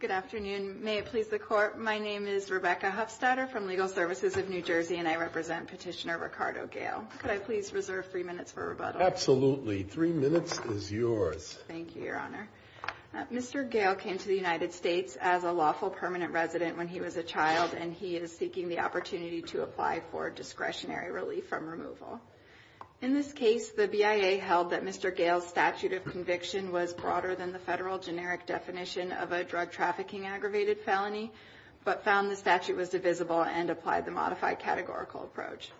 Good afternoon. May it please the Court, my name is Rebecca Hufstadter from Legal Services of New Jersey, and I represent Petitioner Ricardo Gayle. Could I please reserve three minutes for rebuttal? Absolutely. Three minutes is yours. Thank you, Your Honor. Mr. Gayle came to the United States as a lawful permanent resident when he was a child, and he is seeking the opportunity to apply for discretionary relief from removal. In this case, the BIA held that Mr. Gayle's statute of conviction was broader than the federal generic definition of a drug trafficking aggravated felony, but found the statute was divisible and applied the modified categorical approach.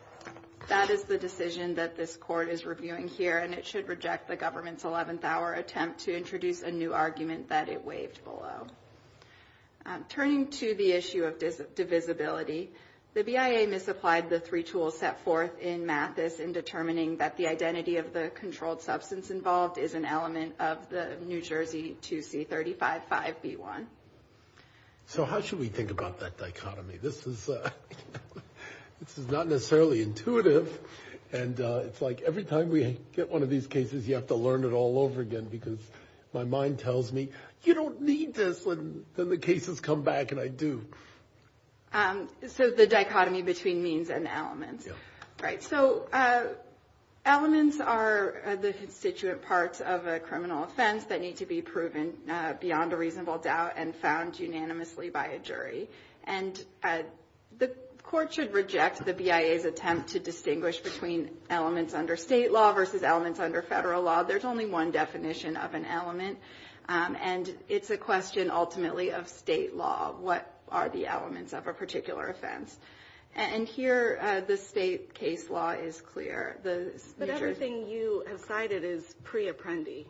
That is the decision that this Court is reviewing here, and it should reject the government's 11th hour attempt to introduce a new argument that it waived below. Turning to the issue of divisibility, the BIA misapplied the three tools set forth in Mathis in determining that the identity of the controlled substance involved is an element of the New Jersey 2C35-5B1. So how should we think about that dichotomy? This is not necessarily intuitive, and it's like every time we get one of these cases, you have to learn it all over again, because my mind tells me, you don't need this, and then the cases come back, and I do. So the dichotomy between means and elements. Right. So elements are the constituent parts of a criminal offense that need to be proven beyond a reasonable doubt and found unanimously by a jury. And the Court should reject the BIA's attempt to distinguish between elements under state law versus elements under federal law. There's only one definition of an element, and it's a question ultimately of state law. What are the elements of a particular offense? And here, the state case law is clear. But everything you have cited is pre-apprendi.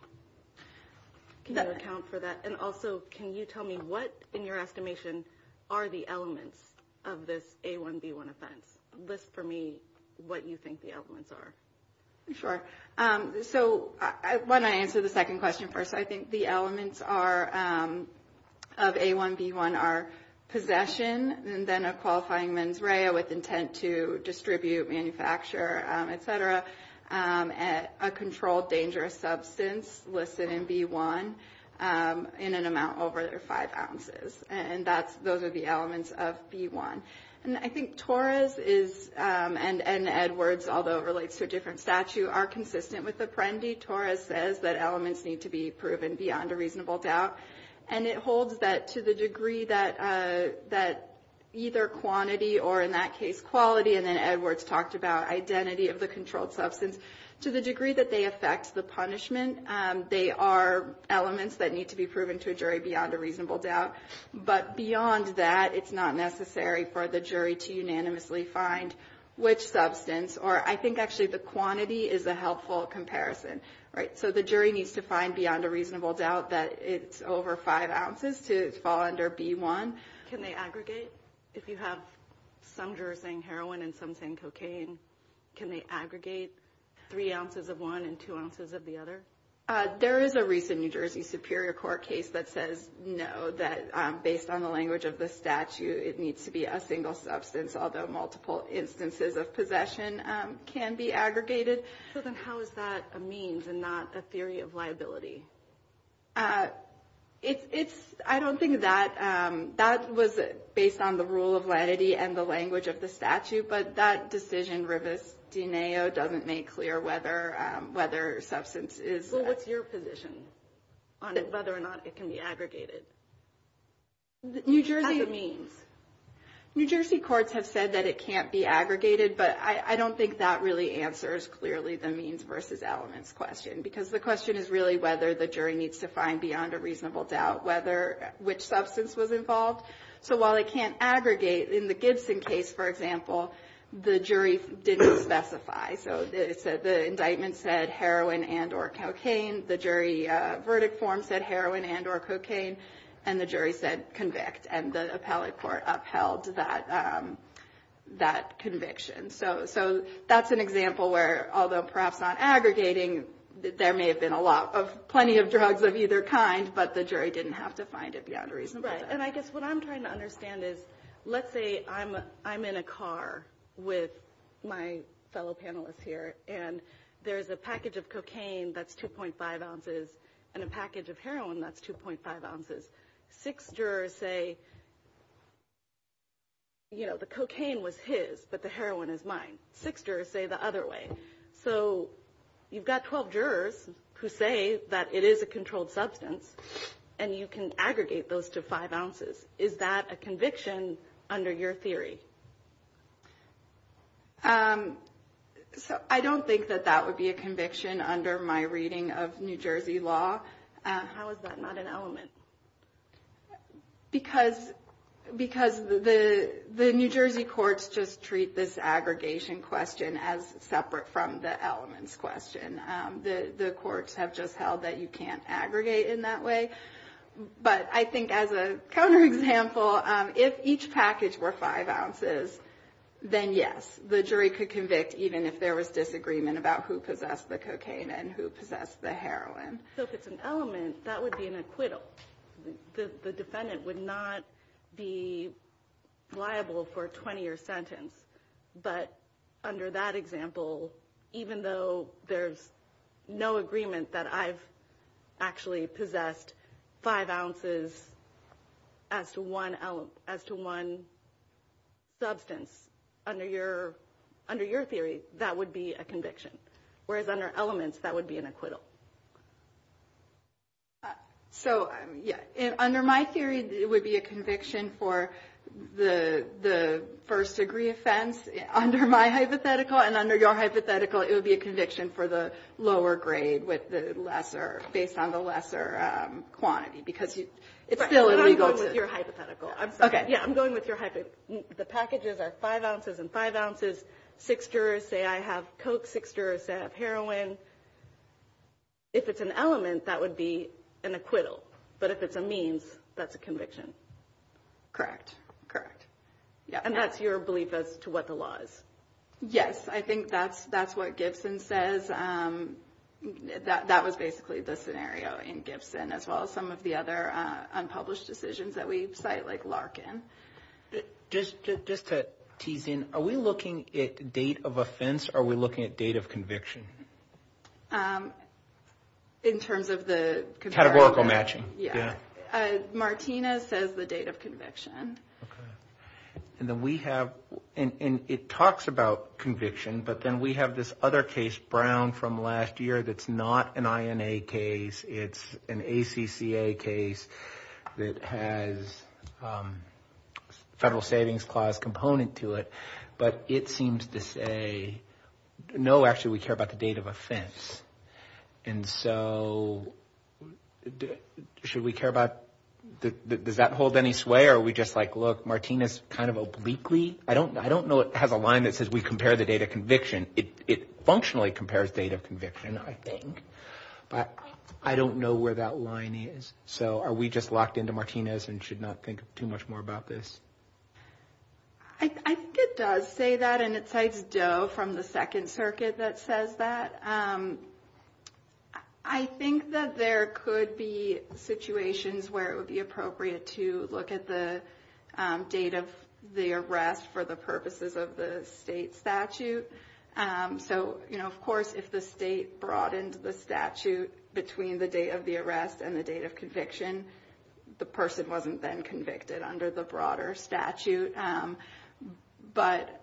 Can you account for that? And also, can you tell me what, in your estimation, are the elements of this A1B1 offense? List for me what you think the elements are. Sure. So when I answer the second question first, I think the elements of A1B1 are possession, and then a qualifying mens rea with intent to distribute, manufacture, et cetera. A controlled dangerous substance listed in B1 in an amount over five ounces. And those are the elements of B1. And I think Torres and Edwards, although it relates to a different statute, are consistent with apprendi. Torres says that elements need to be proven beyond a reasonable doubt. And it holds that to the degree that either quantity or, in that case, quality, and then Edwards talked about identity of the controlled substance, to the degree that they affect the punishment. They are elements that need to be proven to a jury beyond a reasonable doubt. But beyond that, it's not necessary for the jury to unanimously find which substance, or I think actually the quantity is a helpful comparison. So the jury needs to find beyond a reasonable doubt that it's over five ounces to fall under B1. Can they aggregate? If you have some jurors saying heroin and some saying cocaine, can they aggregate three ounces of one and two ounces of the other? There is a recent New Jersey Superior Court case that says no, that based on the language of the statute, it needs to be a single substance, although multiple instances of possession can be aggregated. So then how is that a means and not a theory of liability? It's – I don't think that – that was based on the rule of lenity and the language of the statute, but that decision, Rivestineo, doesn't make clear whether substance is – Well, what's your position on whether or not it can be aggregated? New Jersey – As a means. New Jersey courts have said that it can't be aggregated, but I don't think that really answers clearly the means versus elements question, because the question is really whether the jury needs to find beyond a reasonable doubt whether – which substance was involved. So while it can't aggregate, in the Gibson case, for example, the jury didn't specify. So the indictment said heroin and or cocaine, the jury verdict form said heroin and or cocaine, and the jury said convict, and the appellate court upheld that conviction. So that's an example where, although perhaps not aggregating, there may have been a lot of – plenty of drugs of either kind, but the jury didn't have to find it beyond a reasonable doubt. Right, and I guess what I'm trying to understand is, let's say I'm in a car with my fellow panelists here, and there's a package of cocaine that's 2.5 ounces and a package of heroin that's 2.5 ounces. Six jurors say, you know, the cocaine was his, but the heroin is mine. Six jurors say the other way. So you've got 12 jurors who say that it is a controlled substance, and you can aggregate those to 5 ounces. Is that a conviction under your theory? So I don't think that that would be a conviction under my reading of New Jersey law. How is that not an element? Because the New Jersey courts just treat this aggregation question as separate from the elements question. The courts have just held that you can't aggregate in that way. But I think as a counterexample, if each package were 5 ounces, then yes, the jury could convict, even if there was disagreement about who possessed the cocaine and who possessed the heroin. So if it's an element, that would be an acquittal. The defendant would not be liable for a 20-year sentence. But under that example, even though there's no agreement that I've actually possessed 5 ounces as to one substance, under your theory, that would be a conviction. Whereas under elements, that would be an acquittal. So, yeah, under my theory, it would be a conviction for the first-degree offense. Under my hypothetical and under your hypothetical, it would be a conviction for the lower grade with the lesser, based on the lesser quantity, because it's still illegal to – I'm going with your hypothetical. I'm sorry. Yeah, I'm going with your hypothetical. So the packages are 5 ounces and 5 ounces. Six jurors say I have coke. Six jurors say I have heroin. If it's an element, that would be an acquittal. But if it's a means, that's a conviction. Correct. Correct. And that's your belief as to what the law is? Yes. I think that's what Gibson says. That was basically the scenario in Gibson, as well as some of the other unpublished decisions that we cite, like Larkin. Just to tease in, are we looking at date of offense or are we looking at date of conviction? In terms of the – Categorical matching. Yeah. Martina says the date of conviction. Okay. And then we have – and it talks about conviction, but then we have this other case, Brown, from last year that's not an INA case. It's an ACCA case that has Federal Savings Clause component to it. But it seems to say, no, actually, we care about the date of offense. And so should we care about – does that hold any sway, or are we just like, look, Martina's kind of obliquely – I don't know it has a line that says we compare the date of conviction. It functionally compares date of conviction, I think. But I don't know where that line is. So are we just locked into Martina's and should not think too much more about this? I think it does say that, and it cites Doe from the Second Circuit that says that. I think that there could be situations where it would be appropriate to look at the date of the arrest for the purposes of the state statute. So, you know, of course, if the state broadened the statute between the date of the arrest and the date of conviction, the person wasn't then convicted under the broader statute. But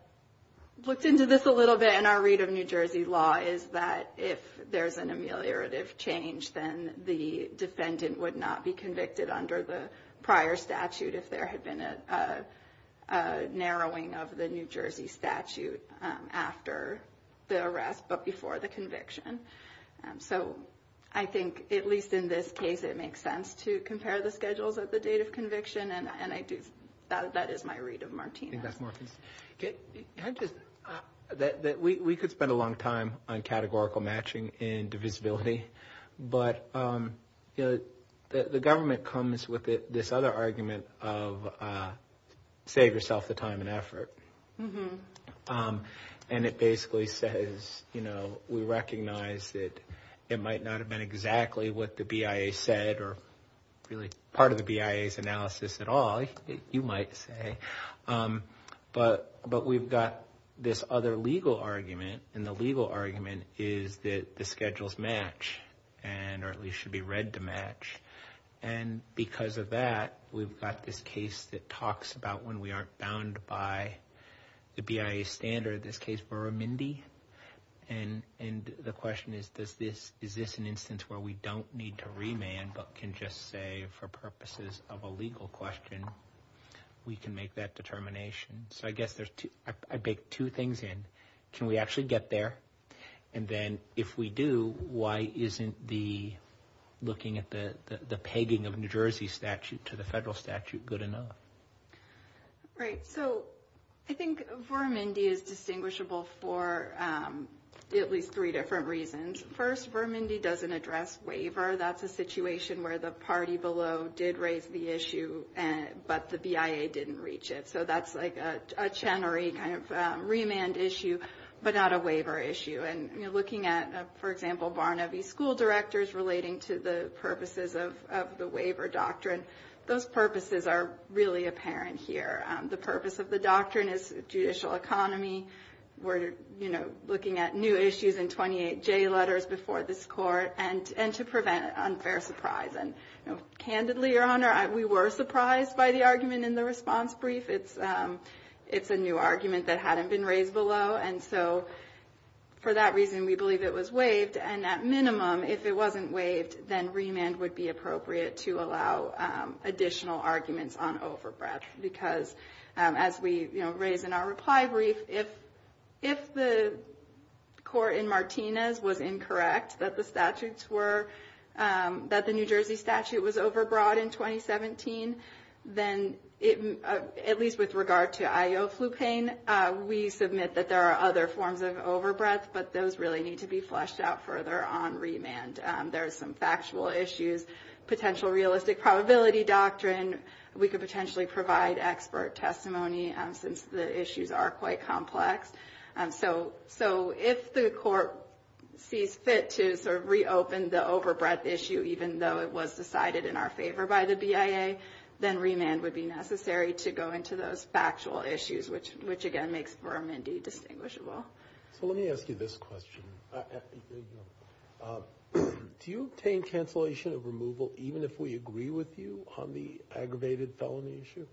looked into this a little bit in our read of New Jersey law is that if there's an ameliorative change, then the defendant would not be convicted under the prior statute if there had been a narrowing of the New Jersey statute after the arrest but before the conviction. So I think, at least in this case, it makes sense to compare the schedules at the date of conviction. And that is my read of Martina's. We could spend a long time on categorical matching and divisibility. But the government comes with this other argument of save yourself the time and effort. And it basically says, you know, we recognize that it might not have been exactly what the BIA said or really part of the BIA's analysis at all, you might say. But we've got this other legal argument, and the legal argument is that the schedules match or at least should be read to match. And because of that, we've got this case that talks about when we aren't bound by the BIA standard, this case Vuramindi. And the question is, is this an instance where we don't need to remand but can just say, for purposes of a legal question, we can make that determination? So I guess I bake two things in. Can we actually get there? And then if we do, why isn't looking at the pegging of New Jersey statute to the federal statute good enough? Right. So I think Vuramindi is distinguishable for at least three different reasons. First, Vuramindi doesn't address waiver. That's a situation where the party below did raise the issue, but the BIA didn't reach it. So that's like a Chenery kind of remand issue, but not a waiver issue. And, you know, looking at, for example, Barnaby school directors relating to the purposes of the waiver doctrine, those purposes are really apparent here. The purpose of the doctrine is judicial economy. We're, you know, looking at new issues in 28J letters before this court and to prevent unfair surprise. And, you know, candidly, Your Honor, we were surprised by the argument in the response brief. It's a new argument that hadn't been raised below. And at minimum, if it wasn't waived, then remand would be appropriate to allow additional arguments on overbreath. Because as we, you know, raise in our reply brief, if the court in Martinez was incorrect that the statutes were, that the New Jersey statute was overbroad in 2017, then at least with regard to IO flu pain, we submit that there are other forms of overbreath, but those really need to be fleshed out further on remand. There are some factual issues, potential realistic probability doctrine. We could potentially provide expert testimony since the issues are quite complex. So if the court sees fit to sort of reopen the overbreath issue, even though it was decided in our favor by the BIA, then remand would be necessary to go into those factual issues, which, again, makes Vermin D distinguishable. So let me ask you this question. Do you obtain cancellation of removal even if we agree with you on the aggravated felony issue?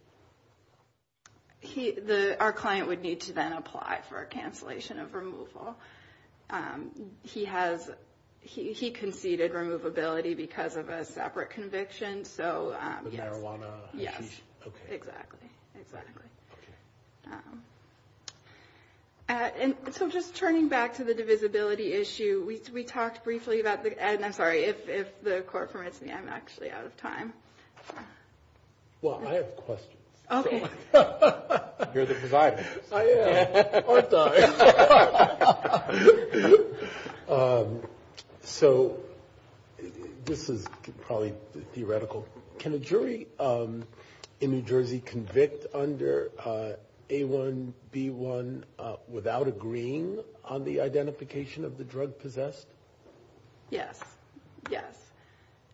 Our client would need to then apply for a cancellation of removal. He conceded removability because of a separate conviction. So, yes. With marijuana? Yes. Okay. Exactly. Exactly. Okay. And so just turning back to the divisibility issue, we talked briefly about the, and I'm sorry, if the court permits me, I'm actually out of time. Well, I have questions. Okay. You're the presider. I am. Aren't I? So this is probably theoretical. Can a jury in New Jersey convict under A1, B1 without agreeing on the identification of the drug possessed? Yes. Yes.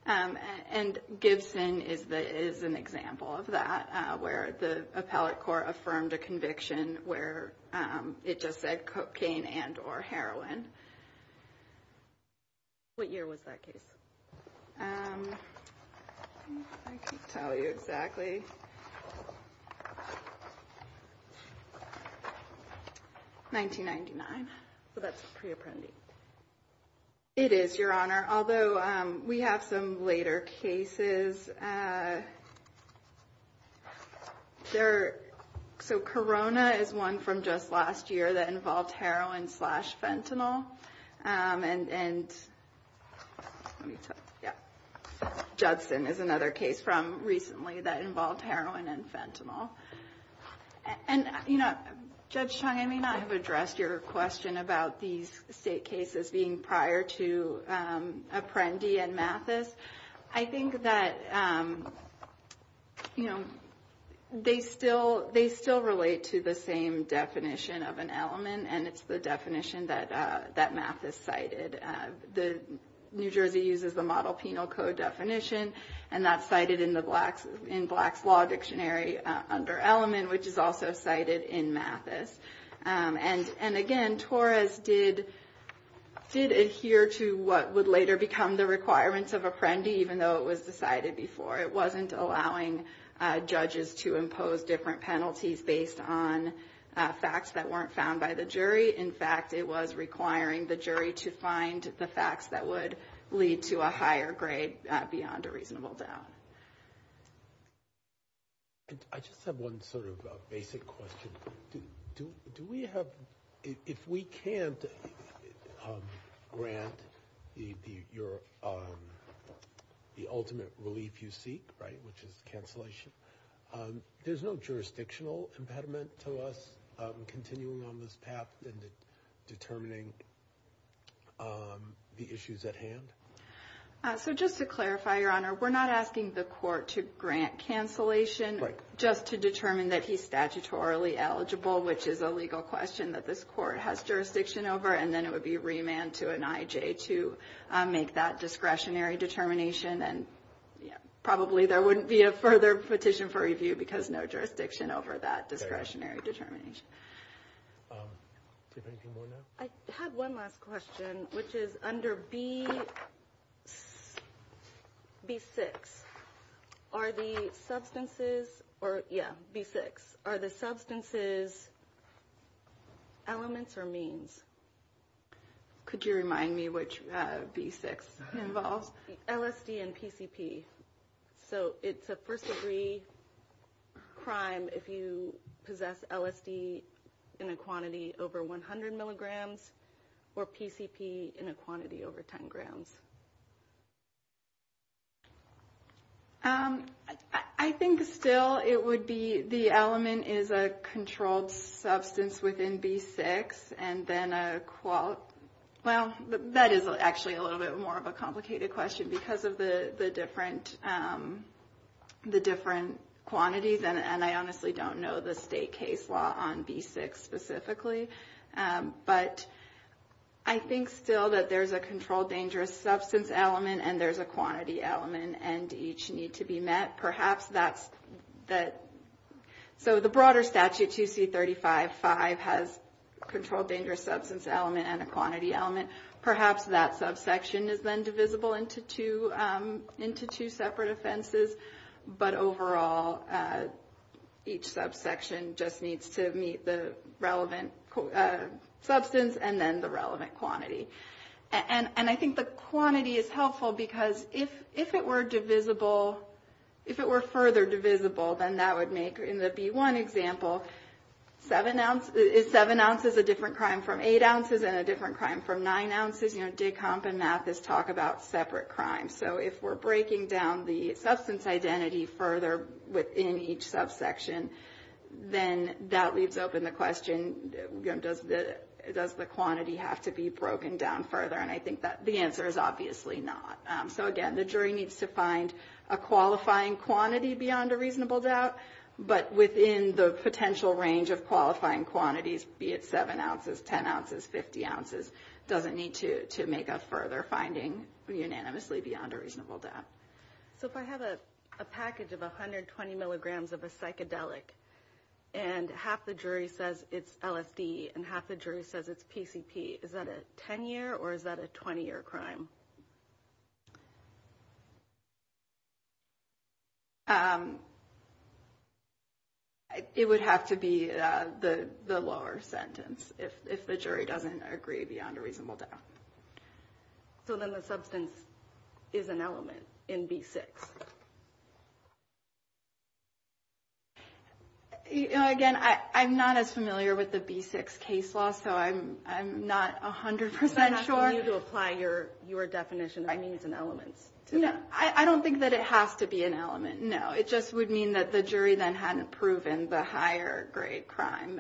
And Gibson is an example of that, where the appellate court affirmed a conviction where it just said cocaine and or heroin. What year was that case? I can't tell you exactly. 1999. So that's pre-appendix. It is, Your Honor. Although we have some later cases. So Corona is one from just last year that involved heroin slash fentanyl. And Judson is another case from recently that involved heroin and fentanyl. And, you know, Judge Chung, I may not have addressed your question about these state cases being prior to Apprendi and Mathis. I think that, you know, they still relate to the same definition of an element, and it's the definition that Mathis cited. New Jersey uses the model penal code definition, and that's cited in Black's Law Dictionary under element, which is also cited in Mathis. And, again, Torres did adhere to what would later become the requirements of Apprendi, even though it was decided before. It wasn't allowing judges to impose different penalties based on facts that weren't found by the jury. In fact, it was requiring the jury to find the facts that would lead to a higher grade beyond a reasonable doubt. I just have one sort of basic question. Do we have if we can't grant the ultimate relief you seek, right, which is cancellation, there's no jurisdictional impediment to us continuing on this path and determining the issues at hand? So just to clarify, Your Honor, we're not asking the court to grant cancellation just to determine that he's statutorily eligible, which is a legal question that this court has jurisdiction over, and then it would be remand to an IJ to make that discretionary determination. And probably there wouldn't be a further petition for review because no jurisdiction over that discretionary determination. I have one last question, which is under B6. Are the substances or, yeah, B6, are the substances elements or means? Could you remind me which B6 involves? LSD and PCP. So it's a first degree crime if you possess LSD in a quantity over 100 milligrams or PCP in a quantity over 10 grams. I think still it would be the element is a controlled substance within B6 and then a, well, that is actually a little bit more of a complicated question because of the different quantities, and I honestly don't know the state case law on B6 specifically. But I think still that there's a controlled dangerous substance element and there's a quantity element and each need to be met. So the broader statute, 2C35.5, has controlled dangerous substance element and a quantity element. Perhaps that subsection is then divisible into two separate offenses, but overall each subsection just needs to meet the relevant substance and then the relevant quantity. And I think the quantity is helpful because if it were divisible, if it were further divisible, then that would make, in the B1 example, is 7 ounces a different crime from 8 ounces and a different crime from 9 ounces? You know, Dick Hump and Mathis talk about separate crimes. So if we're breaking down the substance identity further within each subsection, then that leaves open the question, does the quantity have to be broken down further? And I think that the answer is obviously not. So again, the jury needs to find a qualifying quantity beyond a reasonable doubt, but within the potential range of qualifying quantities, be it 7 ounces, 10 ounces, 50 ounces, doesn't need to make a further finding unanimously beyond a reasonable doubt. So if I have a package of 120 milligrams of a psychedelic and half the jury says it's LSD and half the jury says it's PCP, is that a 10-year or is that a 20-year crime? It would have to be the lower sentence if the jury doesn't agree beyond a reasonable doubt. So then the substance is an element in B6. Again, I'm not as familiar with the B6 case law, so I'm not 100% sure. You have to apply your definition of means and elements to that. I don't think that it has to be an element, no. It just would mean that the jury then hadn't proven the higher-grade crime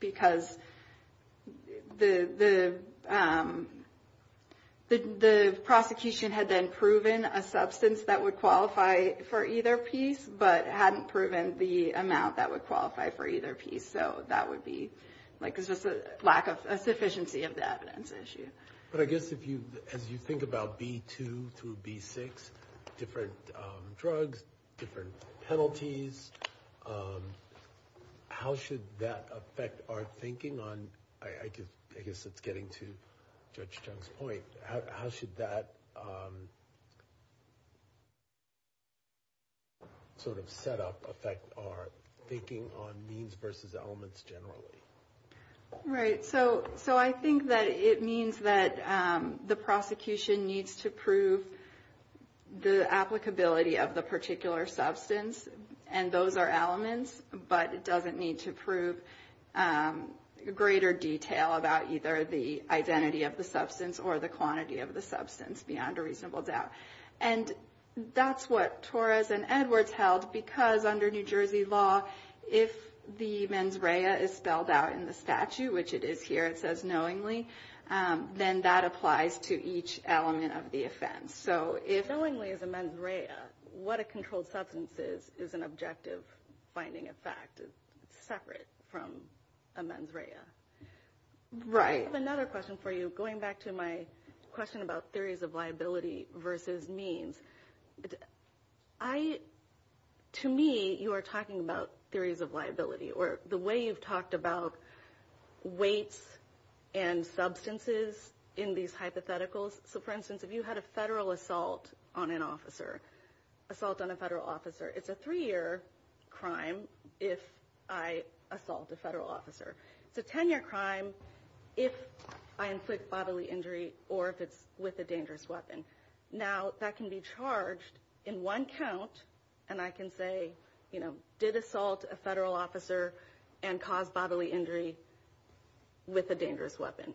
because the prosecution had then proven a substance that would qualify for either piece but hadn't proven the amount that would qualify for either piece. So that would be just a lack of sufficiency of the evidence issue. But I guess as you think about B2 through B6, different drugs, different penalties, how should that affect our thinking on, I guess it's getting to Judge Chung's point, how should that sort of setup affect our thinking on means versus elements generally? Right. So I think that it means that the prosecution needs to prove the applicability of the particular substance, and those are elements, but it doesn't need to prove greater detail about either the identity of the substance or the quantity of the substance beyond a reasonable doubt. And that's what Torres and Edwards held because under New Jersey law, if the mens rea is spelled out in the statute, which it is here, it says knowingly, then that applies to each element of the offense. So if knowingly is a mens rea, what a controlled substance is, is an objective finding of fact separate from a mens rea. Right. I have another question for you going back to my question about theories of liability versus means. To me, you are talking about theories of liability, or the way you've talked about weights and substances in these hypotheticals. So for instance, if you had a federal assault on an officer, assault on a federal officer, it's a three-year crime if I assault a federal officer. It's a 10-year crime if I inflict bodily injury or if it's with a dangerous weapon. Now, that can be charged in one count, and I can say, you know, did assault a federal officer and cause bodily injury with a dangerous weapon.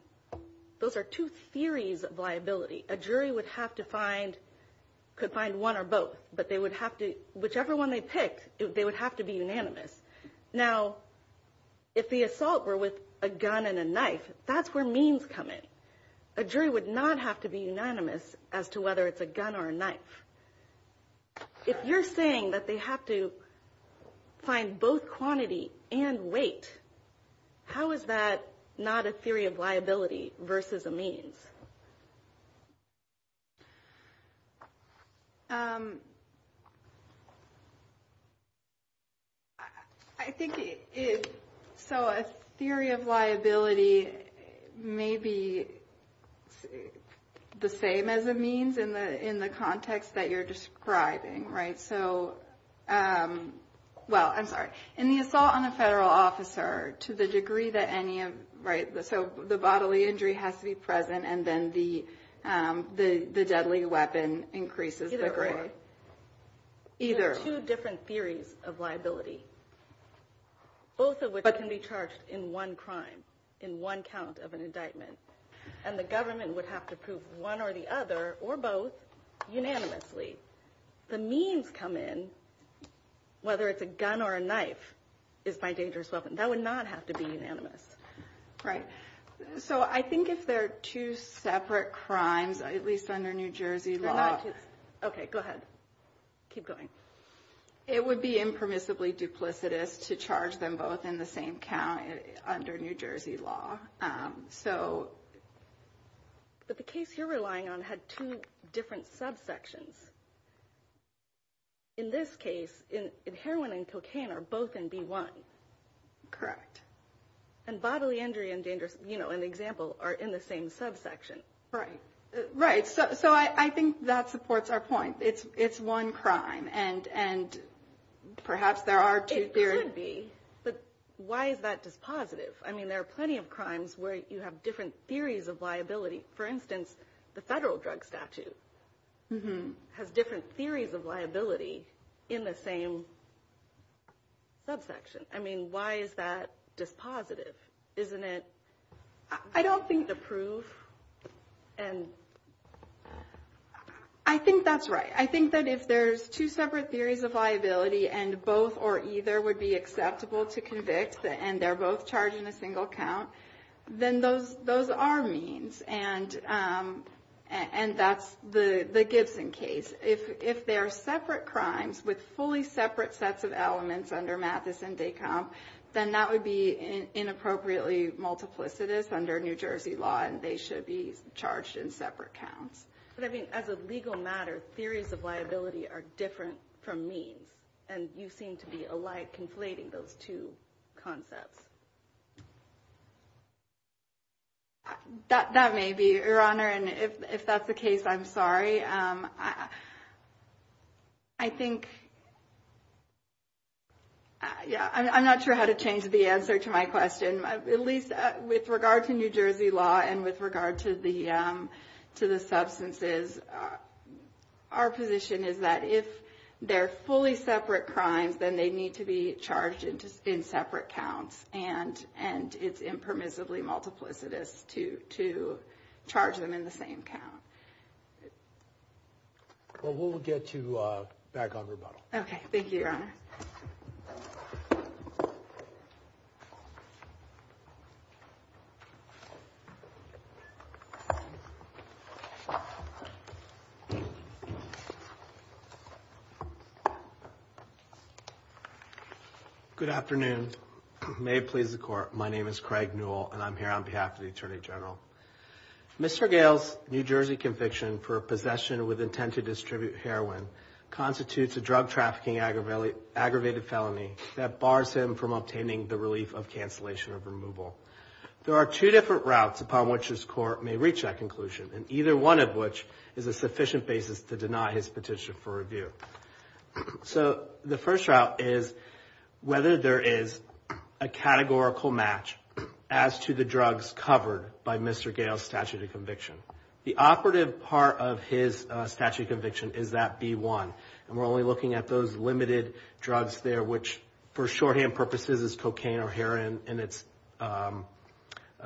Those are two theories of liability. A jury would have to find, could find one or both, but they would have to, whichever one they picked, they would have to be unanimous. Now, if the assault were with a gun and a knife, that's where means come in. A jury would not have to be unanimous as to whether it's a gun or a knife. If you're saying that they have to find both quantity and weight, how is that not a theory of liability versus a means? I think, so a theory of liability may be the same as a means in the context that you're describing, right? So, well, I'm sorry. In the assault on a federal officer, to the degree that any of, right, so the bodily injury has to be present and the assault on a federal officer has to be present, and then the deadly weapon increases the grade. There are two different theories of liability. Both of which can be charged in one crime, in one count of an indictment, and the government would have to prove one or the other or both unanimously. The means come in, whether it's a gun or a knife, is my dangerous weapon. That would not have to be unanimous. Right. So I think if they're two separate crimes, at least under New Jersey law. Okay, go ahead. Keep going. It would be impermissibly duplicitous to charge them both in the same count under New Jersey law. But the case you're relying on had two different subsections. In this case, heroin and cocaine are both in B1. Correct. And bodily injury and danger, you know, an example, are in the same subsection. Right. Right. So I think that supports our point. It's one crime, and perhaps there are two theories. It could be. But why is that dispositive? I mean, there are plenty of crimes where you have different theories of liability. For instance, the federal drug statute has different theories of liability in the same subsection. I mean, why is that dispositive? Isn't it? I don't think the proof. I think that's right. I think that if there's two separate theories of liability, and both or either would be acceptable to convict, and they're both charged in a single count, then those are means. And that's the Gibson case. If they are separate crimes with fully separate sets of elements under Mathis and Descamp, then that would be inappropriately multiplicitous under New Jersey law, and they should be charged in separate counts. But, I mean, as a legal matter, theories of liability are different from means, and you seem to be conflating those two concepts. That may be, Your Honor. And if that's the case, I'm sorry. I think, yeah, I'm not sure how to change the answer to my question. At least with regard to New Jersey law and with regard to the substances, our position is that if they're fully separate crimes, then they need to be charged in separate counts, and it's impermissibly multiplicitous to charge them in the same count. Well, we'll get you back on rebuttal. Thank you. Good afternoon. May it please the Court, my name is Craig Newell, and I'm here on behalf of the Attorney General. Mr. Gail's New Jersey conviction for possession with intent to distribute heroin constitutes a drug trafficking aggravated felony that bars him from obtaining the relief of cancellation or removal. There are two different routes upon which this Court may reach that conclusion, and either one of which is a sufficient basis to deny his petition for review. So the first route is whether there is a categorical match as to the drugs covered by Mr. Gail's statute of conviction. The operative part of his statute of conviction is that B-1, and we're only looking at those limited drugs there which, for shorthand purposes, is cocaine or heroin in its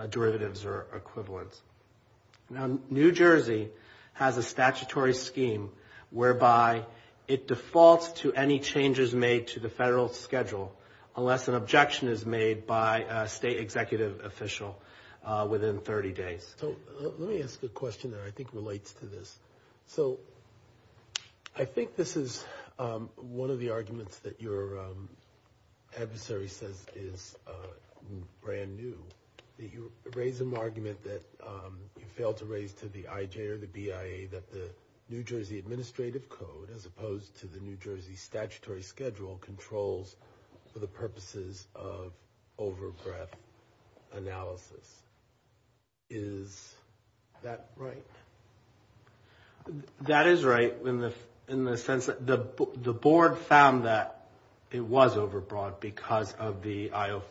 derivatives or equivalents. Now, New Jersey has a statutory scheme whereby it defaults to any changes made to the federal schedule unless an objection is made by a state executive official within 30 days. So let me ask a question that I think relates to this. So I think this is one of the arguments that your adversary says is brand new, that you raise an argument that you failed to raise to the IJ or the BIA that the New Jersey Administrative Code, as opposed to the New Jersey Statutory Schedule, controls for the purposes of overbreadth analysis. Is that right? That is right in the sense that the Board found that it was overbroad because of the Iowa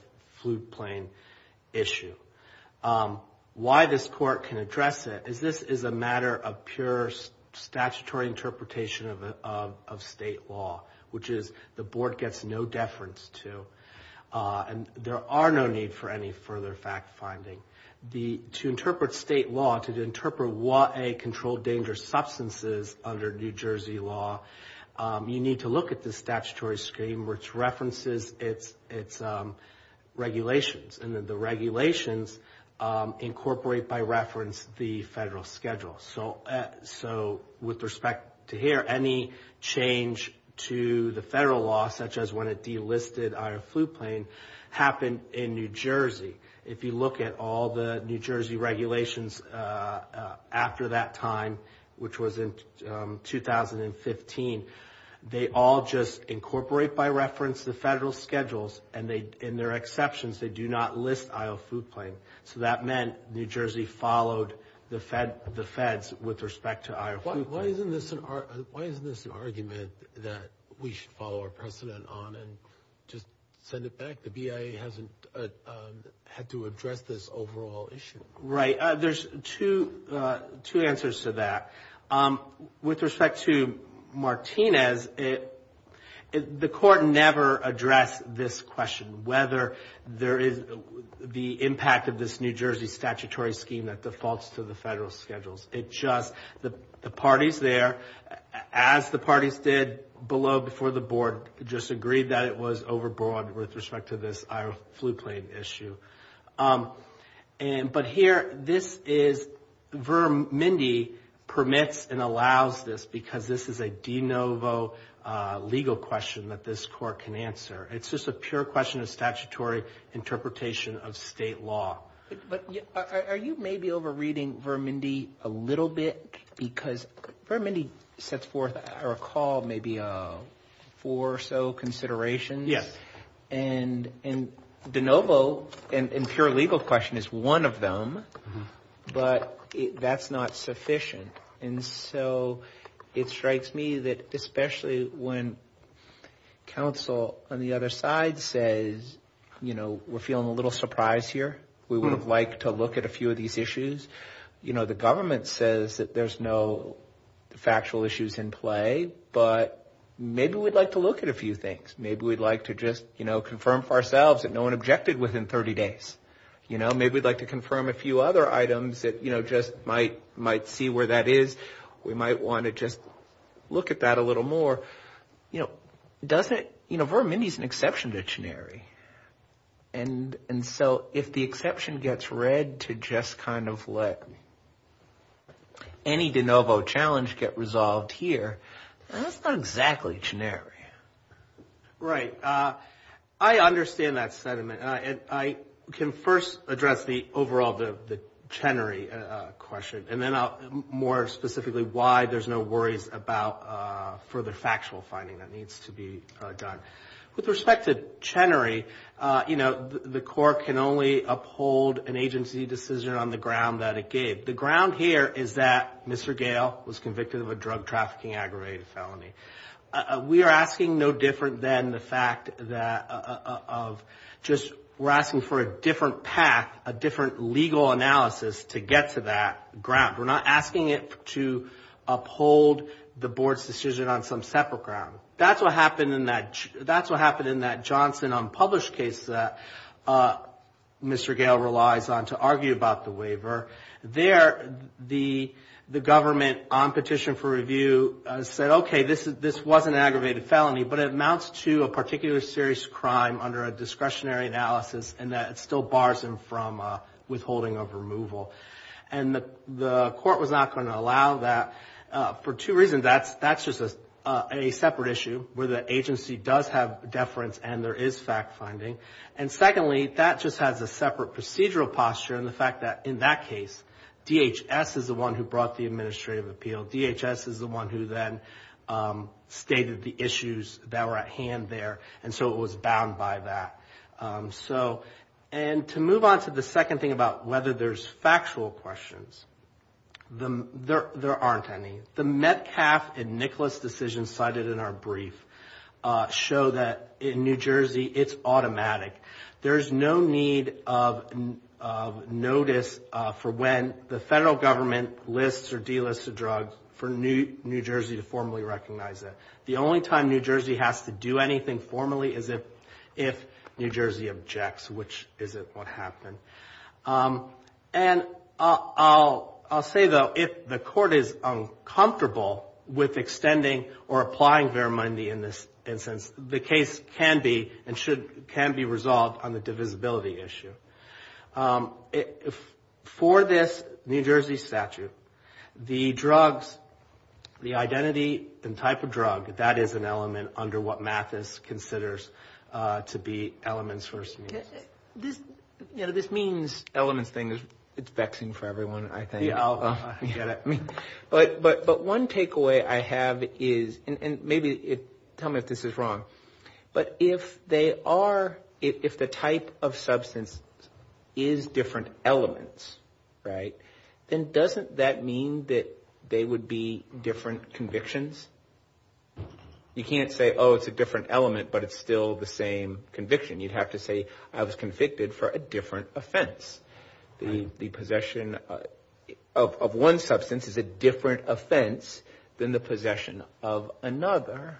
flu plane issue. Why this court can address it is this is a matter of pure statutory interpretation of state law, which is the Board gets no deference to. And there are no need for any further fact-finding. To interpret state law, to interpret what a controlled danger substance is under New Jersey law, you need to look at the statutory scheme which references its regulations. And the regulations incorporate, by reference, the federal schedule. So with respect to here, any change to the federal law, such as when it delisted Iowa flu plane, happened in New Jersey. If you look at all the New Jersey regulations after that time, which was in 2015, they all just incorporate, by reference, the federal schedules. And in their exceptions, they do not list Iowa flu plane. So that meant New Jersey followed the feds with respect to Iowa flu plane. Why isn't this an argument that we should follow our precedent on and just send it back? The BIA hasn't had to address this overall issue. Right. There's two answers to that. With respect to Martinez, the court never addressed this question, whether there is the impact of this New Jersey statutory scheme that defaults to the federal schedules. It just, the parties there, as the parties did below before the Board, just agreed that it was overbroad with respect to this Iowa flu plane issue. But here, this is, Vermindi permits and allows this because this is a de novo legal question that this court can answer. It's just a pure question of statutory interpretation of state law. But are you maybe overreading Vermindi a little bit? Because Vermindi sets forth, I recall, maybe four or so considerations. Yes. And de novo and pure legal question is one of them, but that's not sufficient. And so it strikes me that especially when counsel on the other side says, you know, we're feeling a little surprised here. We would have liked to look at a few of these issues. You know, the government says that there's no factual issues in play, but maybe we'd like to look at a few things. Maybe we'd like to just, you know, confirm for ourselves that no one objected within 30 days. You know, maybe we'd like to confirm a few other items that, you know, just might see where that is. We might want to just look at that a little more. You know, doesn't, you know, Vermindi's an exception to chenery. And so if the exception gets read to just kind of let any de novo challenge get resolved here, that's not exactly chenery. Right. I understand that sentiment. And I can first address the overall, the chenery question, and then more specifically why there's no worries about further factual finding that needs to be done. With respect to chenery, you know, the court can only uphold an agency decision on the ground that it gave. The ground here is that Mr. Gale was convicted of a drug trafficking aggravated felony. We are asking no different than the fact that of just, we're asking for a different path, a different legal analysis to get to that ground. We're not asking it to uphold the board's decision on some separate ground. That's what happened in that Johnson unpublished case that Mr. Gale relies on to argue about the waiver. There, the government on petition for review said, okay, this was an aggravated felony, but it amounts to a particular serious crime under a discretionary analysis, and that it still bars him from withholding of removal. And the court was not going to allow that for two reasons. That's just a separate issue where the agency does have deference and there is fact finding. And secondly, that just has a separate procedural posture in the fact that in that case, DHS is the one who brought the administrative appeal. DHS is the one who then stated the issues that were at hand there, and so it was bound by that. So, and to move on to the second thing about whether there's factual questions, there aren't any. The Metcalf and Nicholas decisions cited in our brief show that in New Jersey, it's automatic. There's no need of notice for when the federal government lists or delists a drug for New Jersey to formally recognize it. The only time New Jersey has to do anything formally is if New Jersey objects, which isn't what happened. And I'll say, though, if the court is uncomfortable with extending or applying verimondi in this instance, the case can be and should be resolved on the divisibility issue. For this New Jersey statute, the drugs, the identity and type of drug, that is an element under what Mathis considers to be elements for some use. This means elements thing is vexing for everyone, I think. But one takeaway I have is, and maybe tell me if this is wrong, but if they are, if the type of substance is different elements, right, then doesn't that mean that they would be different convictions? You can't say, oh, it's a different element, but it's still the same conviction. You'd have to say, I was convicted for a different offense. The possession of one substance is a different offense than the possession of another,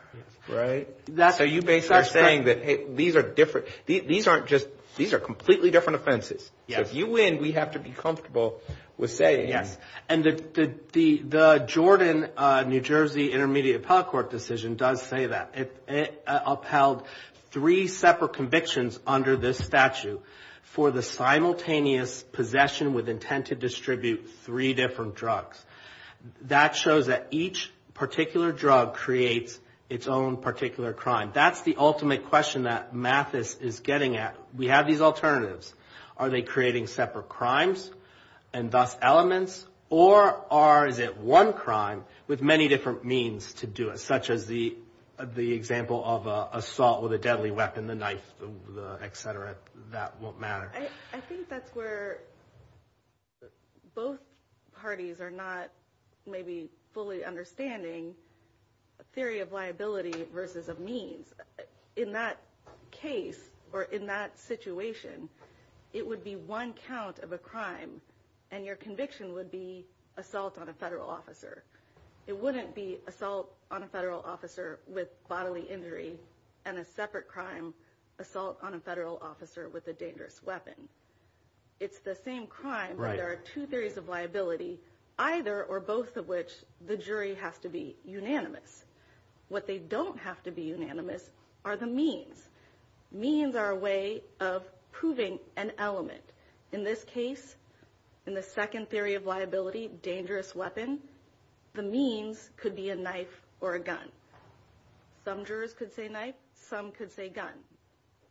right? So you basically are saying that, hey, these are different, these aren't just, these are completely different offenses. So if you win, we have to be comfortable with saying. Yes. And the Jordan New Jersey Intermediate Appellate Court decision does say that. It upheld three separate convictions under this statute for the simultaneous possession with intent to distribute three different drugs. That shows that each particular drug creates its own particular crime. That's the ultimate question that Mathis is getting at. We have these alternatives. Are they creating separate crimes and thus elements? Or are, is it one crime with many different means to do it, such as the example of assault with a deadly weapon, the knife, et cetera, that won't matter? I think that's where both parties are not maybe fully understanding a theory of liability versus a means. In that case or in that situation, it would be one count of a crime, and your conviction would be assault on a federal officer. It wouldn't be assault on a federal officer with bodily injury and a separate crime, assault on a federal officer with a dangerous weapon. It's the same crime, but there are two theories of liability, either or both of which the jury has to be unanimous. What they don't have to be unanimous are the means. Means are a way of proving an element. In this case, in the second theory of liability, dangerous weapon, the means could be a knife or a gun. Some jurors could say knife. Some could say gun.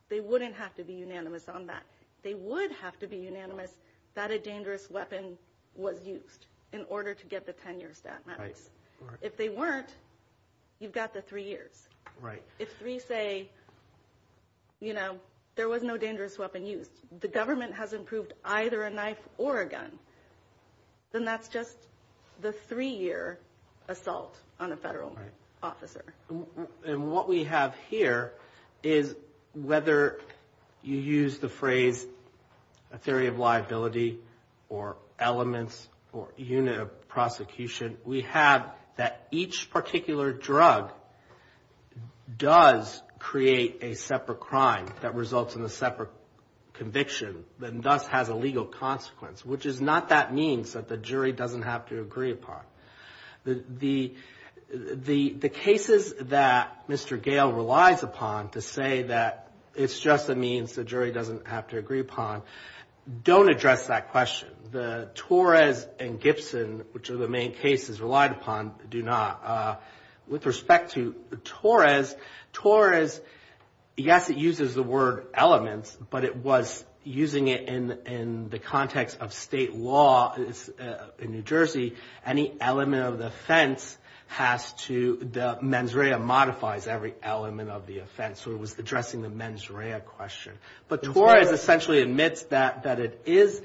They wouldn't have to be unanimous on that. They would have to be unanimous that a dangerous weapon was used in order to get the 10-year stat, Mathis. If they weren't, you've got the three years. If three say, you know, there was no dangerous weapon used, the government has approved either a knife or a gun, then that's just the three-year assault on a federal officer. And what we have here is whether you use the phrase a theory of liability or elements or unit of prosecution, we have that each particular drug does create a separate crime that results in a separate conviction and thus has a legal consequence, which is not that means that the jury doesn't have to agree upon. The cases that Mr. Gale relies upon to say that it's just a means the jury doesn't have to agree upon don't address that question. The Torres and Gibson, which are the main cases relied upon, do not. With respect to Torres, Torres, yes, it uses the word elements, but it was using it in the context of state law in New Jersey. Any element of the offense has to, the mens rea modifies every element of the offense. So it was addressing the mens rea question. But Torres essentially admits that it is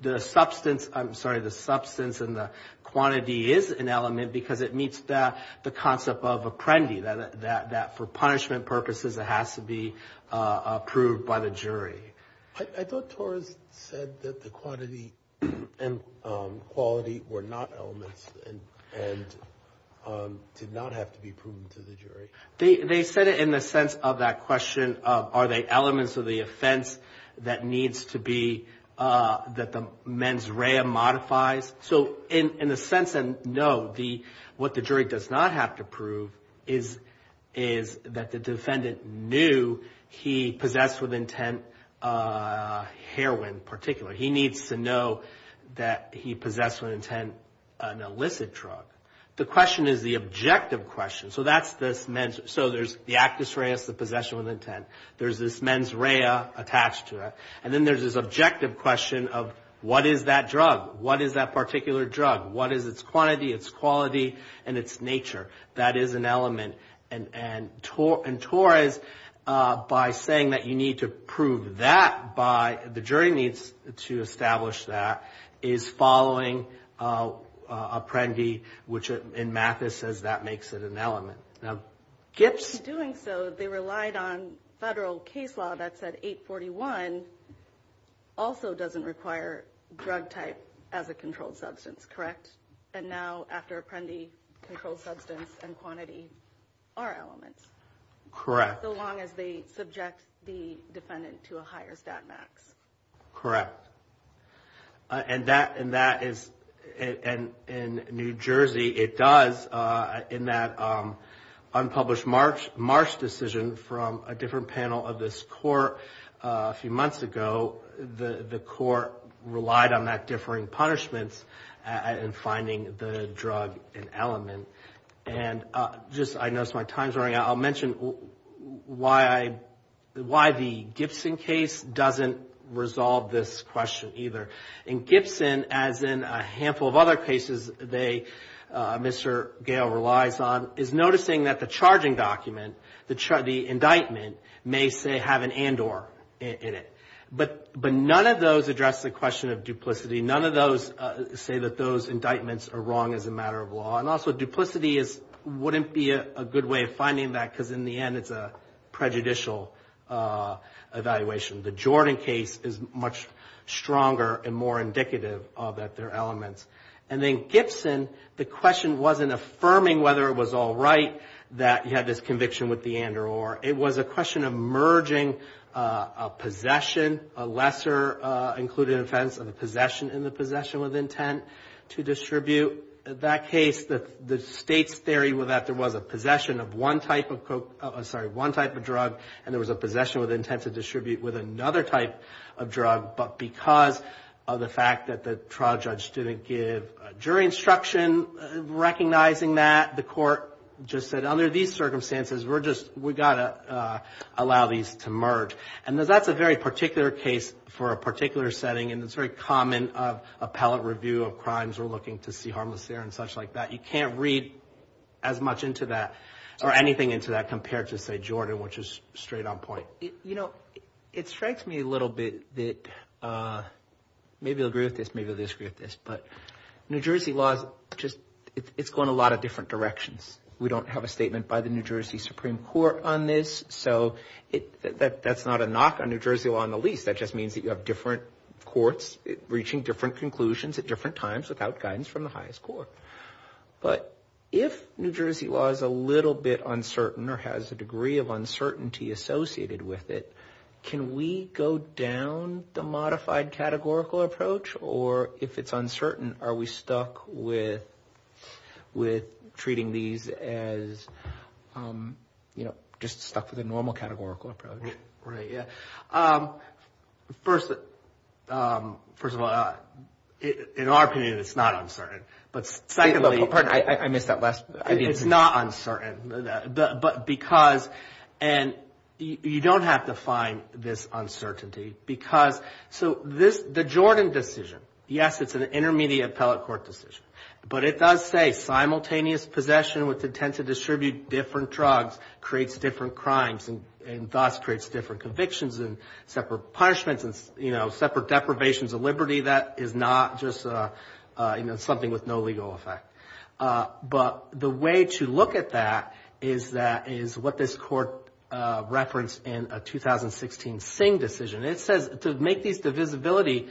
the substance, I'm sorry, the substance and the quantity is an element because it meets the concept of apprendi, that for punishment purposes it has to be approved by the jury. I thought Torres said that the quantity and quality were not elements and did not have to be proven to the jury. They said it in the sense of that question of are they elements of the offense that needs to be, that the mens rea modifies. So in the sense that no, what the jury does not have to prove is that the defendant knew he possessed with intent heroin in particular. He needs to know that he possessed with intent an illicit drug. The question is the objective question. So that's this mens, so there's the actus reus, the possession with intent. There's this mens rea attached to it. And then there's this objective question of what is that drug? What is that particular drug? What is its quantity, its quality, and its nature? That is an element. And Torres, by saying that you need to prove that by, the jury needs to establish that, is following apprendi, which in Mathis says that makes it an element. In doing so, they relied on federal case law that said 841 also doesn't require drug type as a controlled substance, correct? And now after apprendi, controlled substance and quantity are elements. Correct. So long as they subject the defendant to a higher stat max. Correct. And that is, in New Jersey it does, in that unpublished Marsh decision from a different panel of this court a few months ago, the court relied on that differing punishments in finding the drug an element. And just, I noticed my time's running out. I'll mention why the Gibson case doesn't resolve this question either. In Gibson, as in a handful of other cases they, Mr. Gale relies on, is noticing that the charging document, the indictment may say have an and or in it. But none of those address the question of duplicity. None of those say that those indictments are wrong as a matter of law. And also duplicity is, wouldn't be a good way of finding that because in the end it's a prejudicial evaluation. The Jordan case is much stronger and more indicative of that they're elements. And then Gibson, the question wasn't affirming whether it was all right that he had this conviction with the and or. It was a question of merging a possession, a lesser included offense of a possession in the possession with intent to distribute. In that case, the state's theory was that there was a possession of one type of drug and there was a possession with intent to distribute with another type of drug. But because of the fact that the trial judge didn't give jury instruction recognizing that, the court just said under these circumstances we're just, we've got to allow these to merge. And that's a very particular case for a particular setting. And it's very common of appellate review of crimes we're looking to see harmless there and such like that. You can't read as much into that or anything into that compared to, say, Jordan, which is straight on point. You know, it strikes me a little bit that maybe you'll agree with this, maybe you'll disagree with this. But New Jersey law is just, it's going a lot of different directions. We don't have a statement by the New Jersey Supreme Court on this. So that's not a knock on New Jersey law in the least. That just means that you have different courts reaching different conclusions at different times without guidance from the highest court. But if New Jersey law is a little bit uncertain or has a degree of uncertainty associated with it, can we go down the modified categorical approach? Or if it's uncertain, are we stuck with treating these as, you know, just stuck with a normal categorical approach? Right, yeah. First of all, in our opinion, it's not uncertain. But secondly, it's not uncertain. But because, and you don't have to find this uncertainty. Because so this, the Jordan decision, yes, it's an intermediate appellate court decision. But it does say simultaneous possession with intent to distribute different drugs creates different crimes and thus creates different convictions and separate punishments and, you know, separate deprivations of liberty. That is not just, you know, something with no legal effect. But the way to look at that is what this court referenced in a 2016 Singh decision. It says to make these divisibility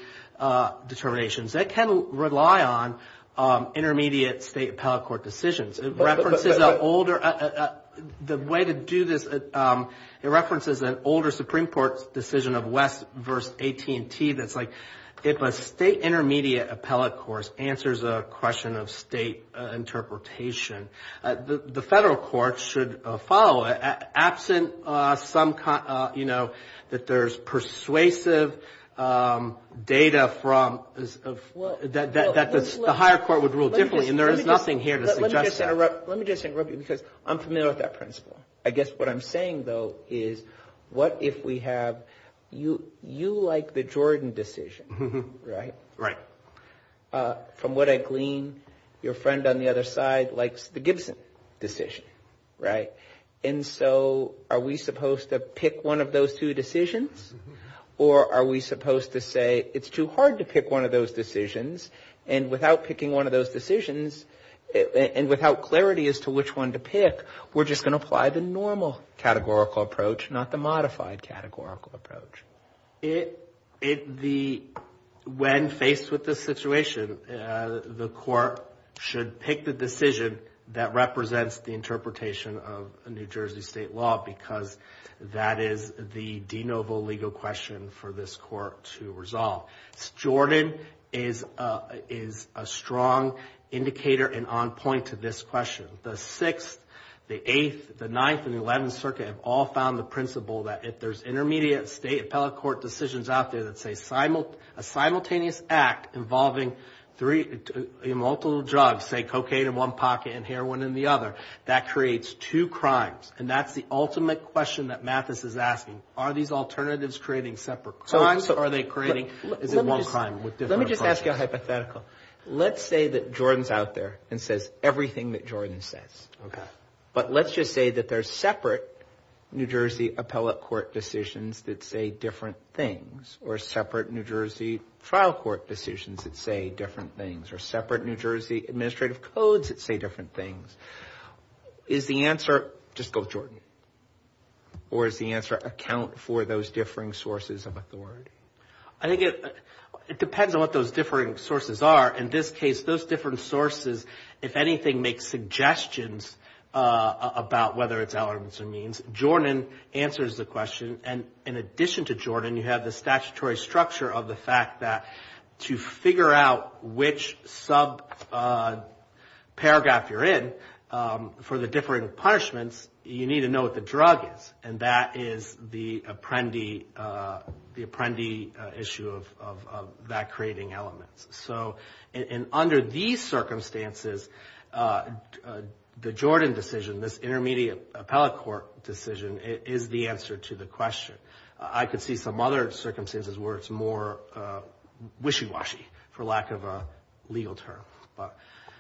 determinations, it can rely on intermediate state appellate court decisions. It references an older, the way to do this, it references an older Supreme Court decision of West v. AT&T that's like, if a state intermediate appellate court answers a question of state interpretation, the federal court should follow it. Absent some, you know, that there's persuasive data from, that the higher court would rule differently. And there is nothing here to suggest that. Let me just interrupt you because I'm familiar with that principle. I guess what I'm saying, though, is what if we have, you like the Jordan decision, right? Right. From what I glean, your friend on the other side likes the Gibson decision, right? And so are we supposed to pick one of those two decisions? Or are we supposed to say it's too hard to pick one of those decisions? And without picking one of those decisions, and without clarity as to which one to pick, we're just going to apply the normal categorical approach, not the modified categorical approach? When faced with this situation, the court should pick the decision that represents the interpretation of New Jersey state law because that is the de novo legal question for this court to resolve. Jordan is a strong indicator and on point to this question. The 6th, the 8th, the 9th, and the 11th Circuit have all found the principle that if there's intermediate state appellate court decisions out there that say a simultaneous act involving three, multiple drugs, say cocaine in one pocket and heroin in the other, that creates two crimes. And that's the ultimate question that Mathis is asking. Are these alternatives creating separate crimes? Or are they creating one crime with different approaches? Let me just ask you a hypothetical. Let's say that Jordan's out there and says everything that Jordan says. Okay. But let's just say that there's separate New Jersey appellate court decisions that say different things or separate New Jersey trial court decisions that say different things or separate New Jersey administrative codes that say different things. Is the answer, just go Jordan, or does the answer account for those differing sources of authority? I think it depends on what those differing sources are. In this case, those different sources, if anything, make suggestions about whether it's elements or means. Jordan answers the question. And in addition to Jordan, you have the statutory structure of the fact that to figure out which subparagraph you're in for the differing punishments, you need to know what the drug is. And that is the apprendee issue of that creating elements. So under these circumstances, the Jordan decision, this intermediate appellate court decision, is the answer to the question. I could see some other circumstances where it's more wishy-washy, for lack of a legal term.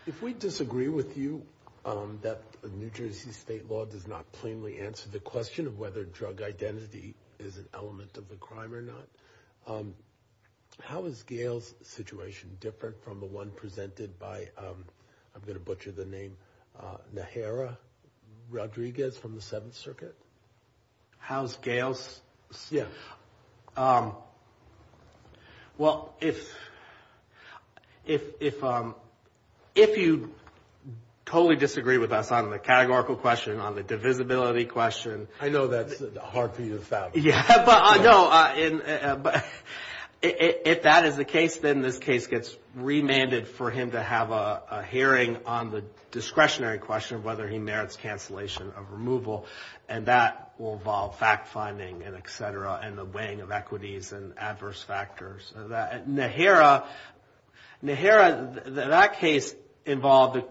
If we disagree with you that New Jersey state law does not plainly answer the question of whether drug identity is an element of the crime or not, how is Gail's situation different from the one presented by, I'm going to butcher the name, Najera Rodriguez from the Seventh Circuit? How's Gail's? Yes. Well, if you totally disagree with us on the categorical question, on the divisibility question. If that is the case, then this case gets remanded for him to have a hearing on the discretionary question of whether he merits cancellation of removal. And that will involve fact-finding and et cetera and the weighing of equities and adverse factors. Najera, that case involved,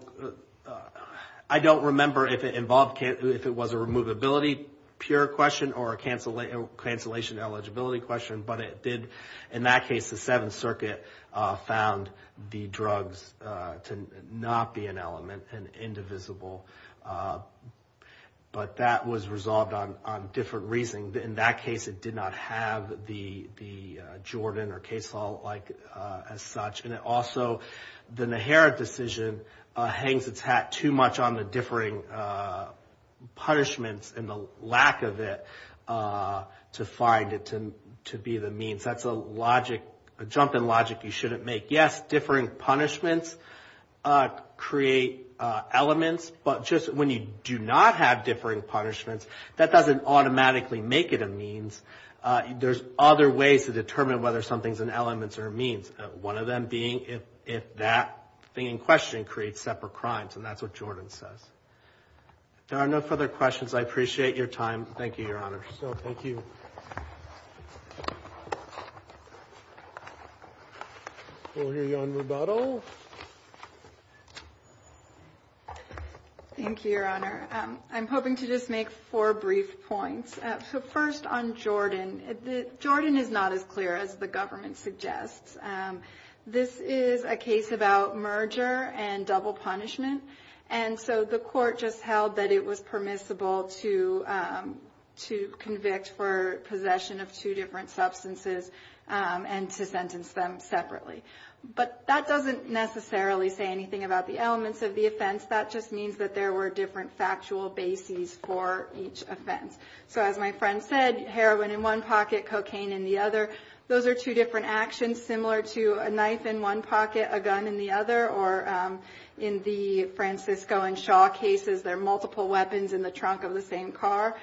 I don't remember if it involved, if it was a removability pure question or a cancellation eligibility question. But it did, in that case, the Seventh Circuit found the drugs to not be an element and indivisible. But that was resolved on different reasons. In that case, it did not have the Jordan or K-salt as such. And it also, the Najera decision hangs its hat too much on the differing punishments and the lack of it to find it to be the means. That's a logic, a jump in logic you shouldn't make. Yes, differing punishments create elements. But just when you do not have differing punishments, that doesn't automatically make it a means. There's other ways to determine whether something's an elements or a means. One of them being if that thing in question creates separate crimes. And that's what Jordan says. There are no further questions. I appreciate your time. Thank you, Your Honor. So thank you. We'll hear you on rebuttal. Thank you, Your Honor. I'm hoping to just make four brief points. So first on Jordan, Jordan is not as clear as the government suggests. This is a case about merger and double punishment. And so the court just held that it was permissible to convict for possession of two different substances and to sentence them separately. But that doesn't necessarily say anything about the elements of the offense. That just means that there were different factual bases for each offense. So as my friend said, heroin in one pocket, cocaine in the other, those are two different actions similar to a knife in one pocket, a gun in the other. Or in the Francisco and Shaw cases, there are multiple weapons in the trunk of the same car.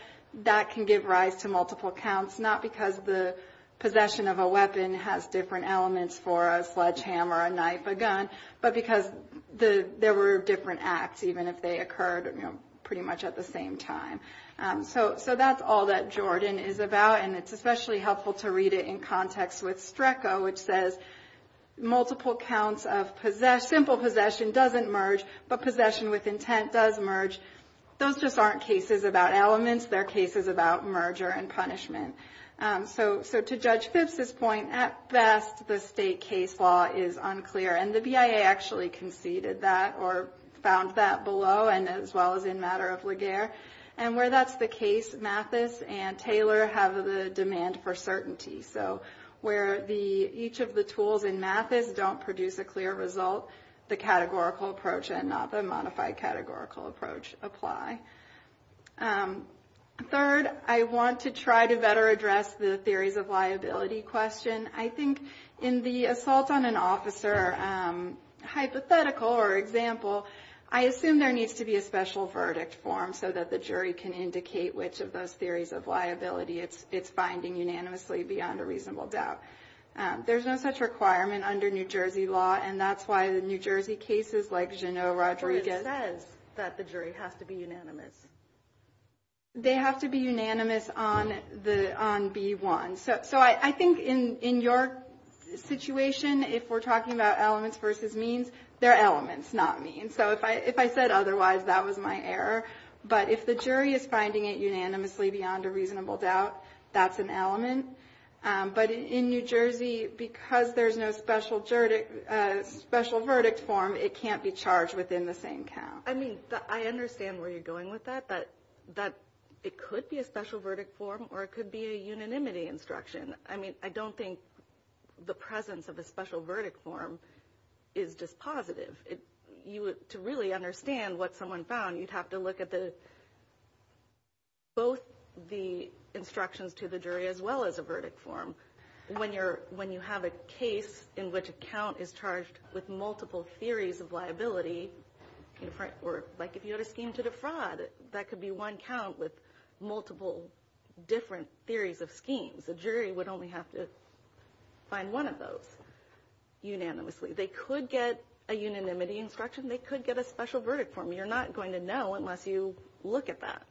That can give rise to multiple counts, not because the possession of a weapon has different elements for a sledgehammer, a knife, a gun, but because there were different acts, even if they occurred pretty much at the same time. So that's all that Jordan is about. And it's especially helpful to read it in context with Strecco, which says multiple counts of simple possession doesn't merge, but possession with intent does merge. Those just aren't cases about elements. They're cases about merger and punishment. So to Judge Phipps's point, at best, the state case law is unclear. And the BIA actually conceded that or found that below and as well as in matter of Laguerre. And where that's the case, Mathis and Taylor have the demand for certainty. So where each of the tools in Mathis don't produce a clear result, the categorical approach and not the modified categorical approach apply. Third, I want to try to better address the theories of liability question. I think in the assault on an officer hypothetical or example, I assume there needs to be a special verdict form so that the jury can indicate which of those theories of liability it's finding unanimously beyond a reasonable doubt. There's no such requirement under New Jersey law, and that's why the New Jersey cases like Jeanneau, Rodriguez. It says that the jury has to be unanimous. They have to be unanimous on B1. So I think in your situation, if we're talking about elements versus means, they're elements, not means. So if I said otherwise, that was my error. But if the jury is finding it unanimously beyond a reasonable doubt, that's an element. But in New Jersey, because there's no special verdict form, it can't be charged within the same count. I mean, I understand where you're going with that, that it could be a special verdict form or it could be a unanimity instruction. I mean, I don't think the presence of a special verdict form is just positive. To really understand what someone found, you'd have to look at both the instructions to the jury as well as a verdict form. When you have a case in which a count is charged with multiple theories of liability, or like if you had a scheme to defraud, that could be one count with multiple different theories of schemes. A jury would only have to find one of those unanimously. They could get a unanimity instruction. They could get a special verdict form. You're not going to know unless you look at that.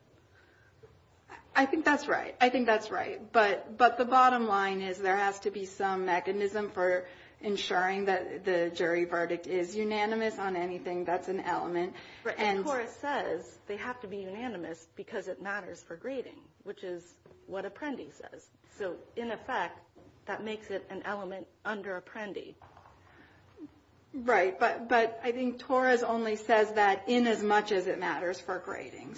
I think that's right. I think that's right. But the bottom line is there has to be some mechanism for ensuring that the jury verdict is unanimous on anything that's an element. But Torres says they have to be unanimous because it matters for grading, which is what Apprendi says. So in effect, that makes it an element under Apprendi. Right, but I think Torres only says that in as much as it matters for grading.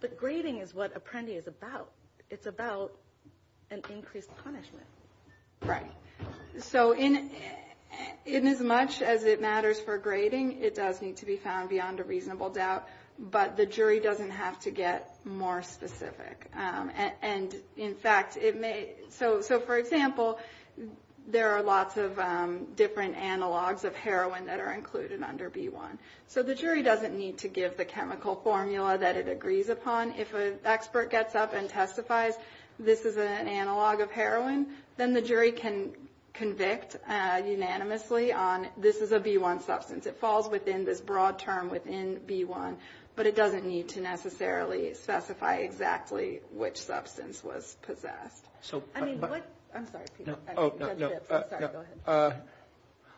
But grading is what Apprendi is about. It's about an increased punishment. Right. So in as much as it matters for grading, it does need to be found beyond a reasonable doubt. But the jury doesn't have to get more specific. And, in fact, so for example, there are lots of different analogs of heroin that are included under B1. So the jury doesn't need to give the chemical formula that it agrees upon. If an expert gets up and testifies this is an analog of heroin, then the jury can convict unanimously on this is a B1 substance. It falls within this broad term within B1. But it doesn't need to necessarily specify exactly which substance was possessed. I mean, what – I'm sorry, Peter. Oh, no, no. Sorry, go ahead.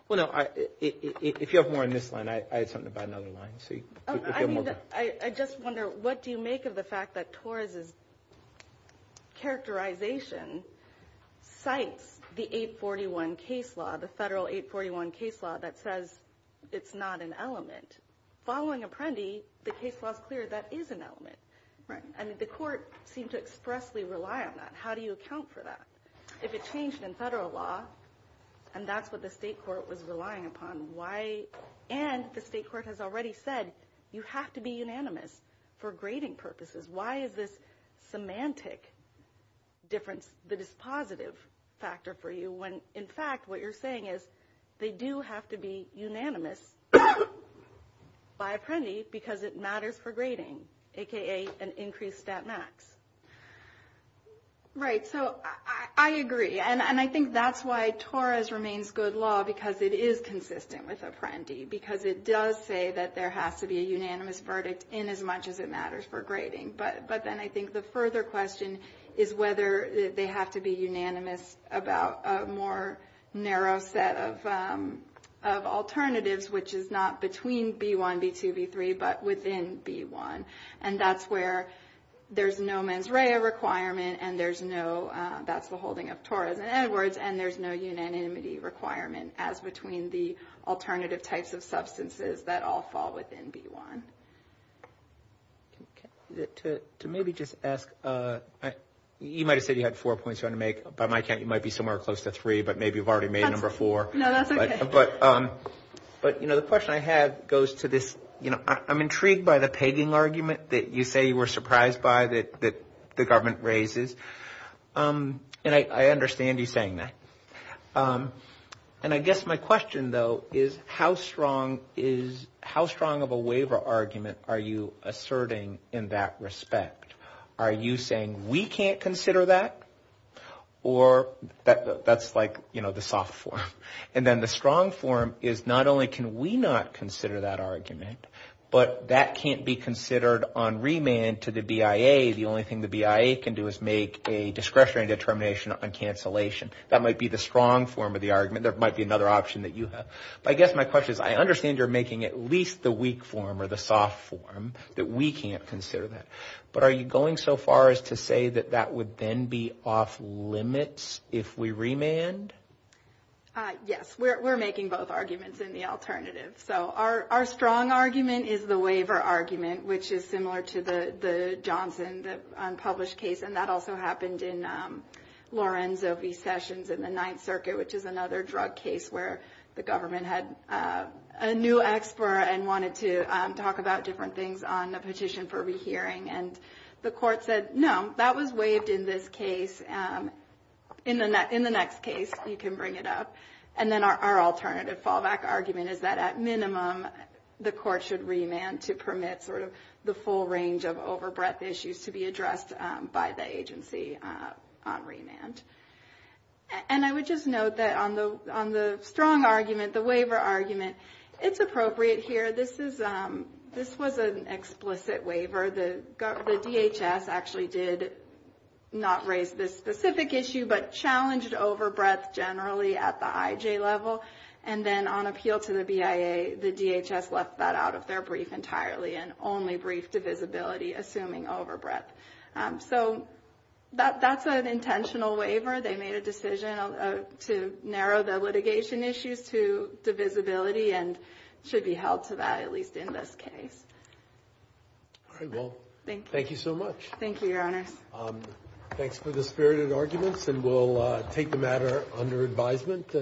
Well, no, if you have more on this line, I had something about another line. I just wonder what do you make of the fact that Torres' characterization cites the 841 case law, the federal 841 case law that says it's not an element. Following Apprendi, the case law is clear that is an element. Right. I mean, the court seemed to expressly rely on that. How do you account for that? If it changed in federal law, and that's what the state court was relying upon, why – and the state court has already said you have to be unanimous for grading purposes. Why is this semantic difference the dispositive factor for you when, in fact, what you're saying is they do have to be unanimous by Apprendi because it matters for grading, a.k.a. an increased stat max. Right. So I agree, and I think that's why Torres remains good law because it is consistent with Apprendi because it does say that there has to be a unanimous verdict in as much as it matters for grading. But then I think the further question is whether they have to be unanimous about a more narrow set of alternatives, which is not between B1, B2, B3, but within B1. And that's where there's no mens rea requirement, and there's no – that's the holding of Torres and Edwards, and there's no unanimity requirement as between the alternative types of substances that all fall within B1. To maybe just ask – you might have said you had four points you wanted to make. By my count, you might be somewhere close to three, but maybe you've already made number four. No, that's okay. But, you know, the question I had goes to this – I'm intrigued by the pegging argument that you say you were surprised by that the government raises, and I understand you saying that. And I guess my question, though, is how strong is – how strong of a waiver argument are you asserting in that respect? Are you saying we can't consider that, or that's like, you know, the soft form? And then the strong form is not only can we not consider that argument, but that can't be considered on remand to the BIA. The only thing the BIA can do is make a discretionary determination on cancellation. That might be the strong form of the argument. There might be another option that you have. But I guess my question is I understand you're making at least the weak form or the soft form, that we can't consider that. But are you going so far as to say that that would then be off limits if we remand? Yes. We're making both arguments in the alternative. So our strong argument is the waiver argument, which is similar to the Johnson, the unpublished case. And that also happened in Lorenzo v. Sessions in the Ninth Circuit, which is another drug case where the government had a new expert and wanted to talk about different things on a petition for rehearing. And the court said, no, that was waived in this case. In the next case, you can bring it up. And then our alternative fallback argument is that, at minimum, the court should remand to permit sort of the full range of overbreadth issues to be addressed by the agency on remand. And I would just note that on the strong argument, the waiver argument, it's appropriate here. This was an explicit waiver. The DHS actually did not raise this specific issue, but challenged overbreadth generally at the IJ level. And then on appeal to the BIA, the DHS left that out of their brief entirely and only briefed divisibility, assuming overbreadth. So that's an intentional waiver. They made a decision to narrow the litigation issues to divisibility and should be held to that, at least in this case. All right. Well, thank you so much. Thank you, Your Honors. Thanks for the spirited arguments. And we'll take the matter under advisement.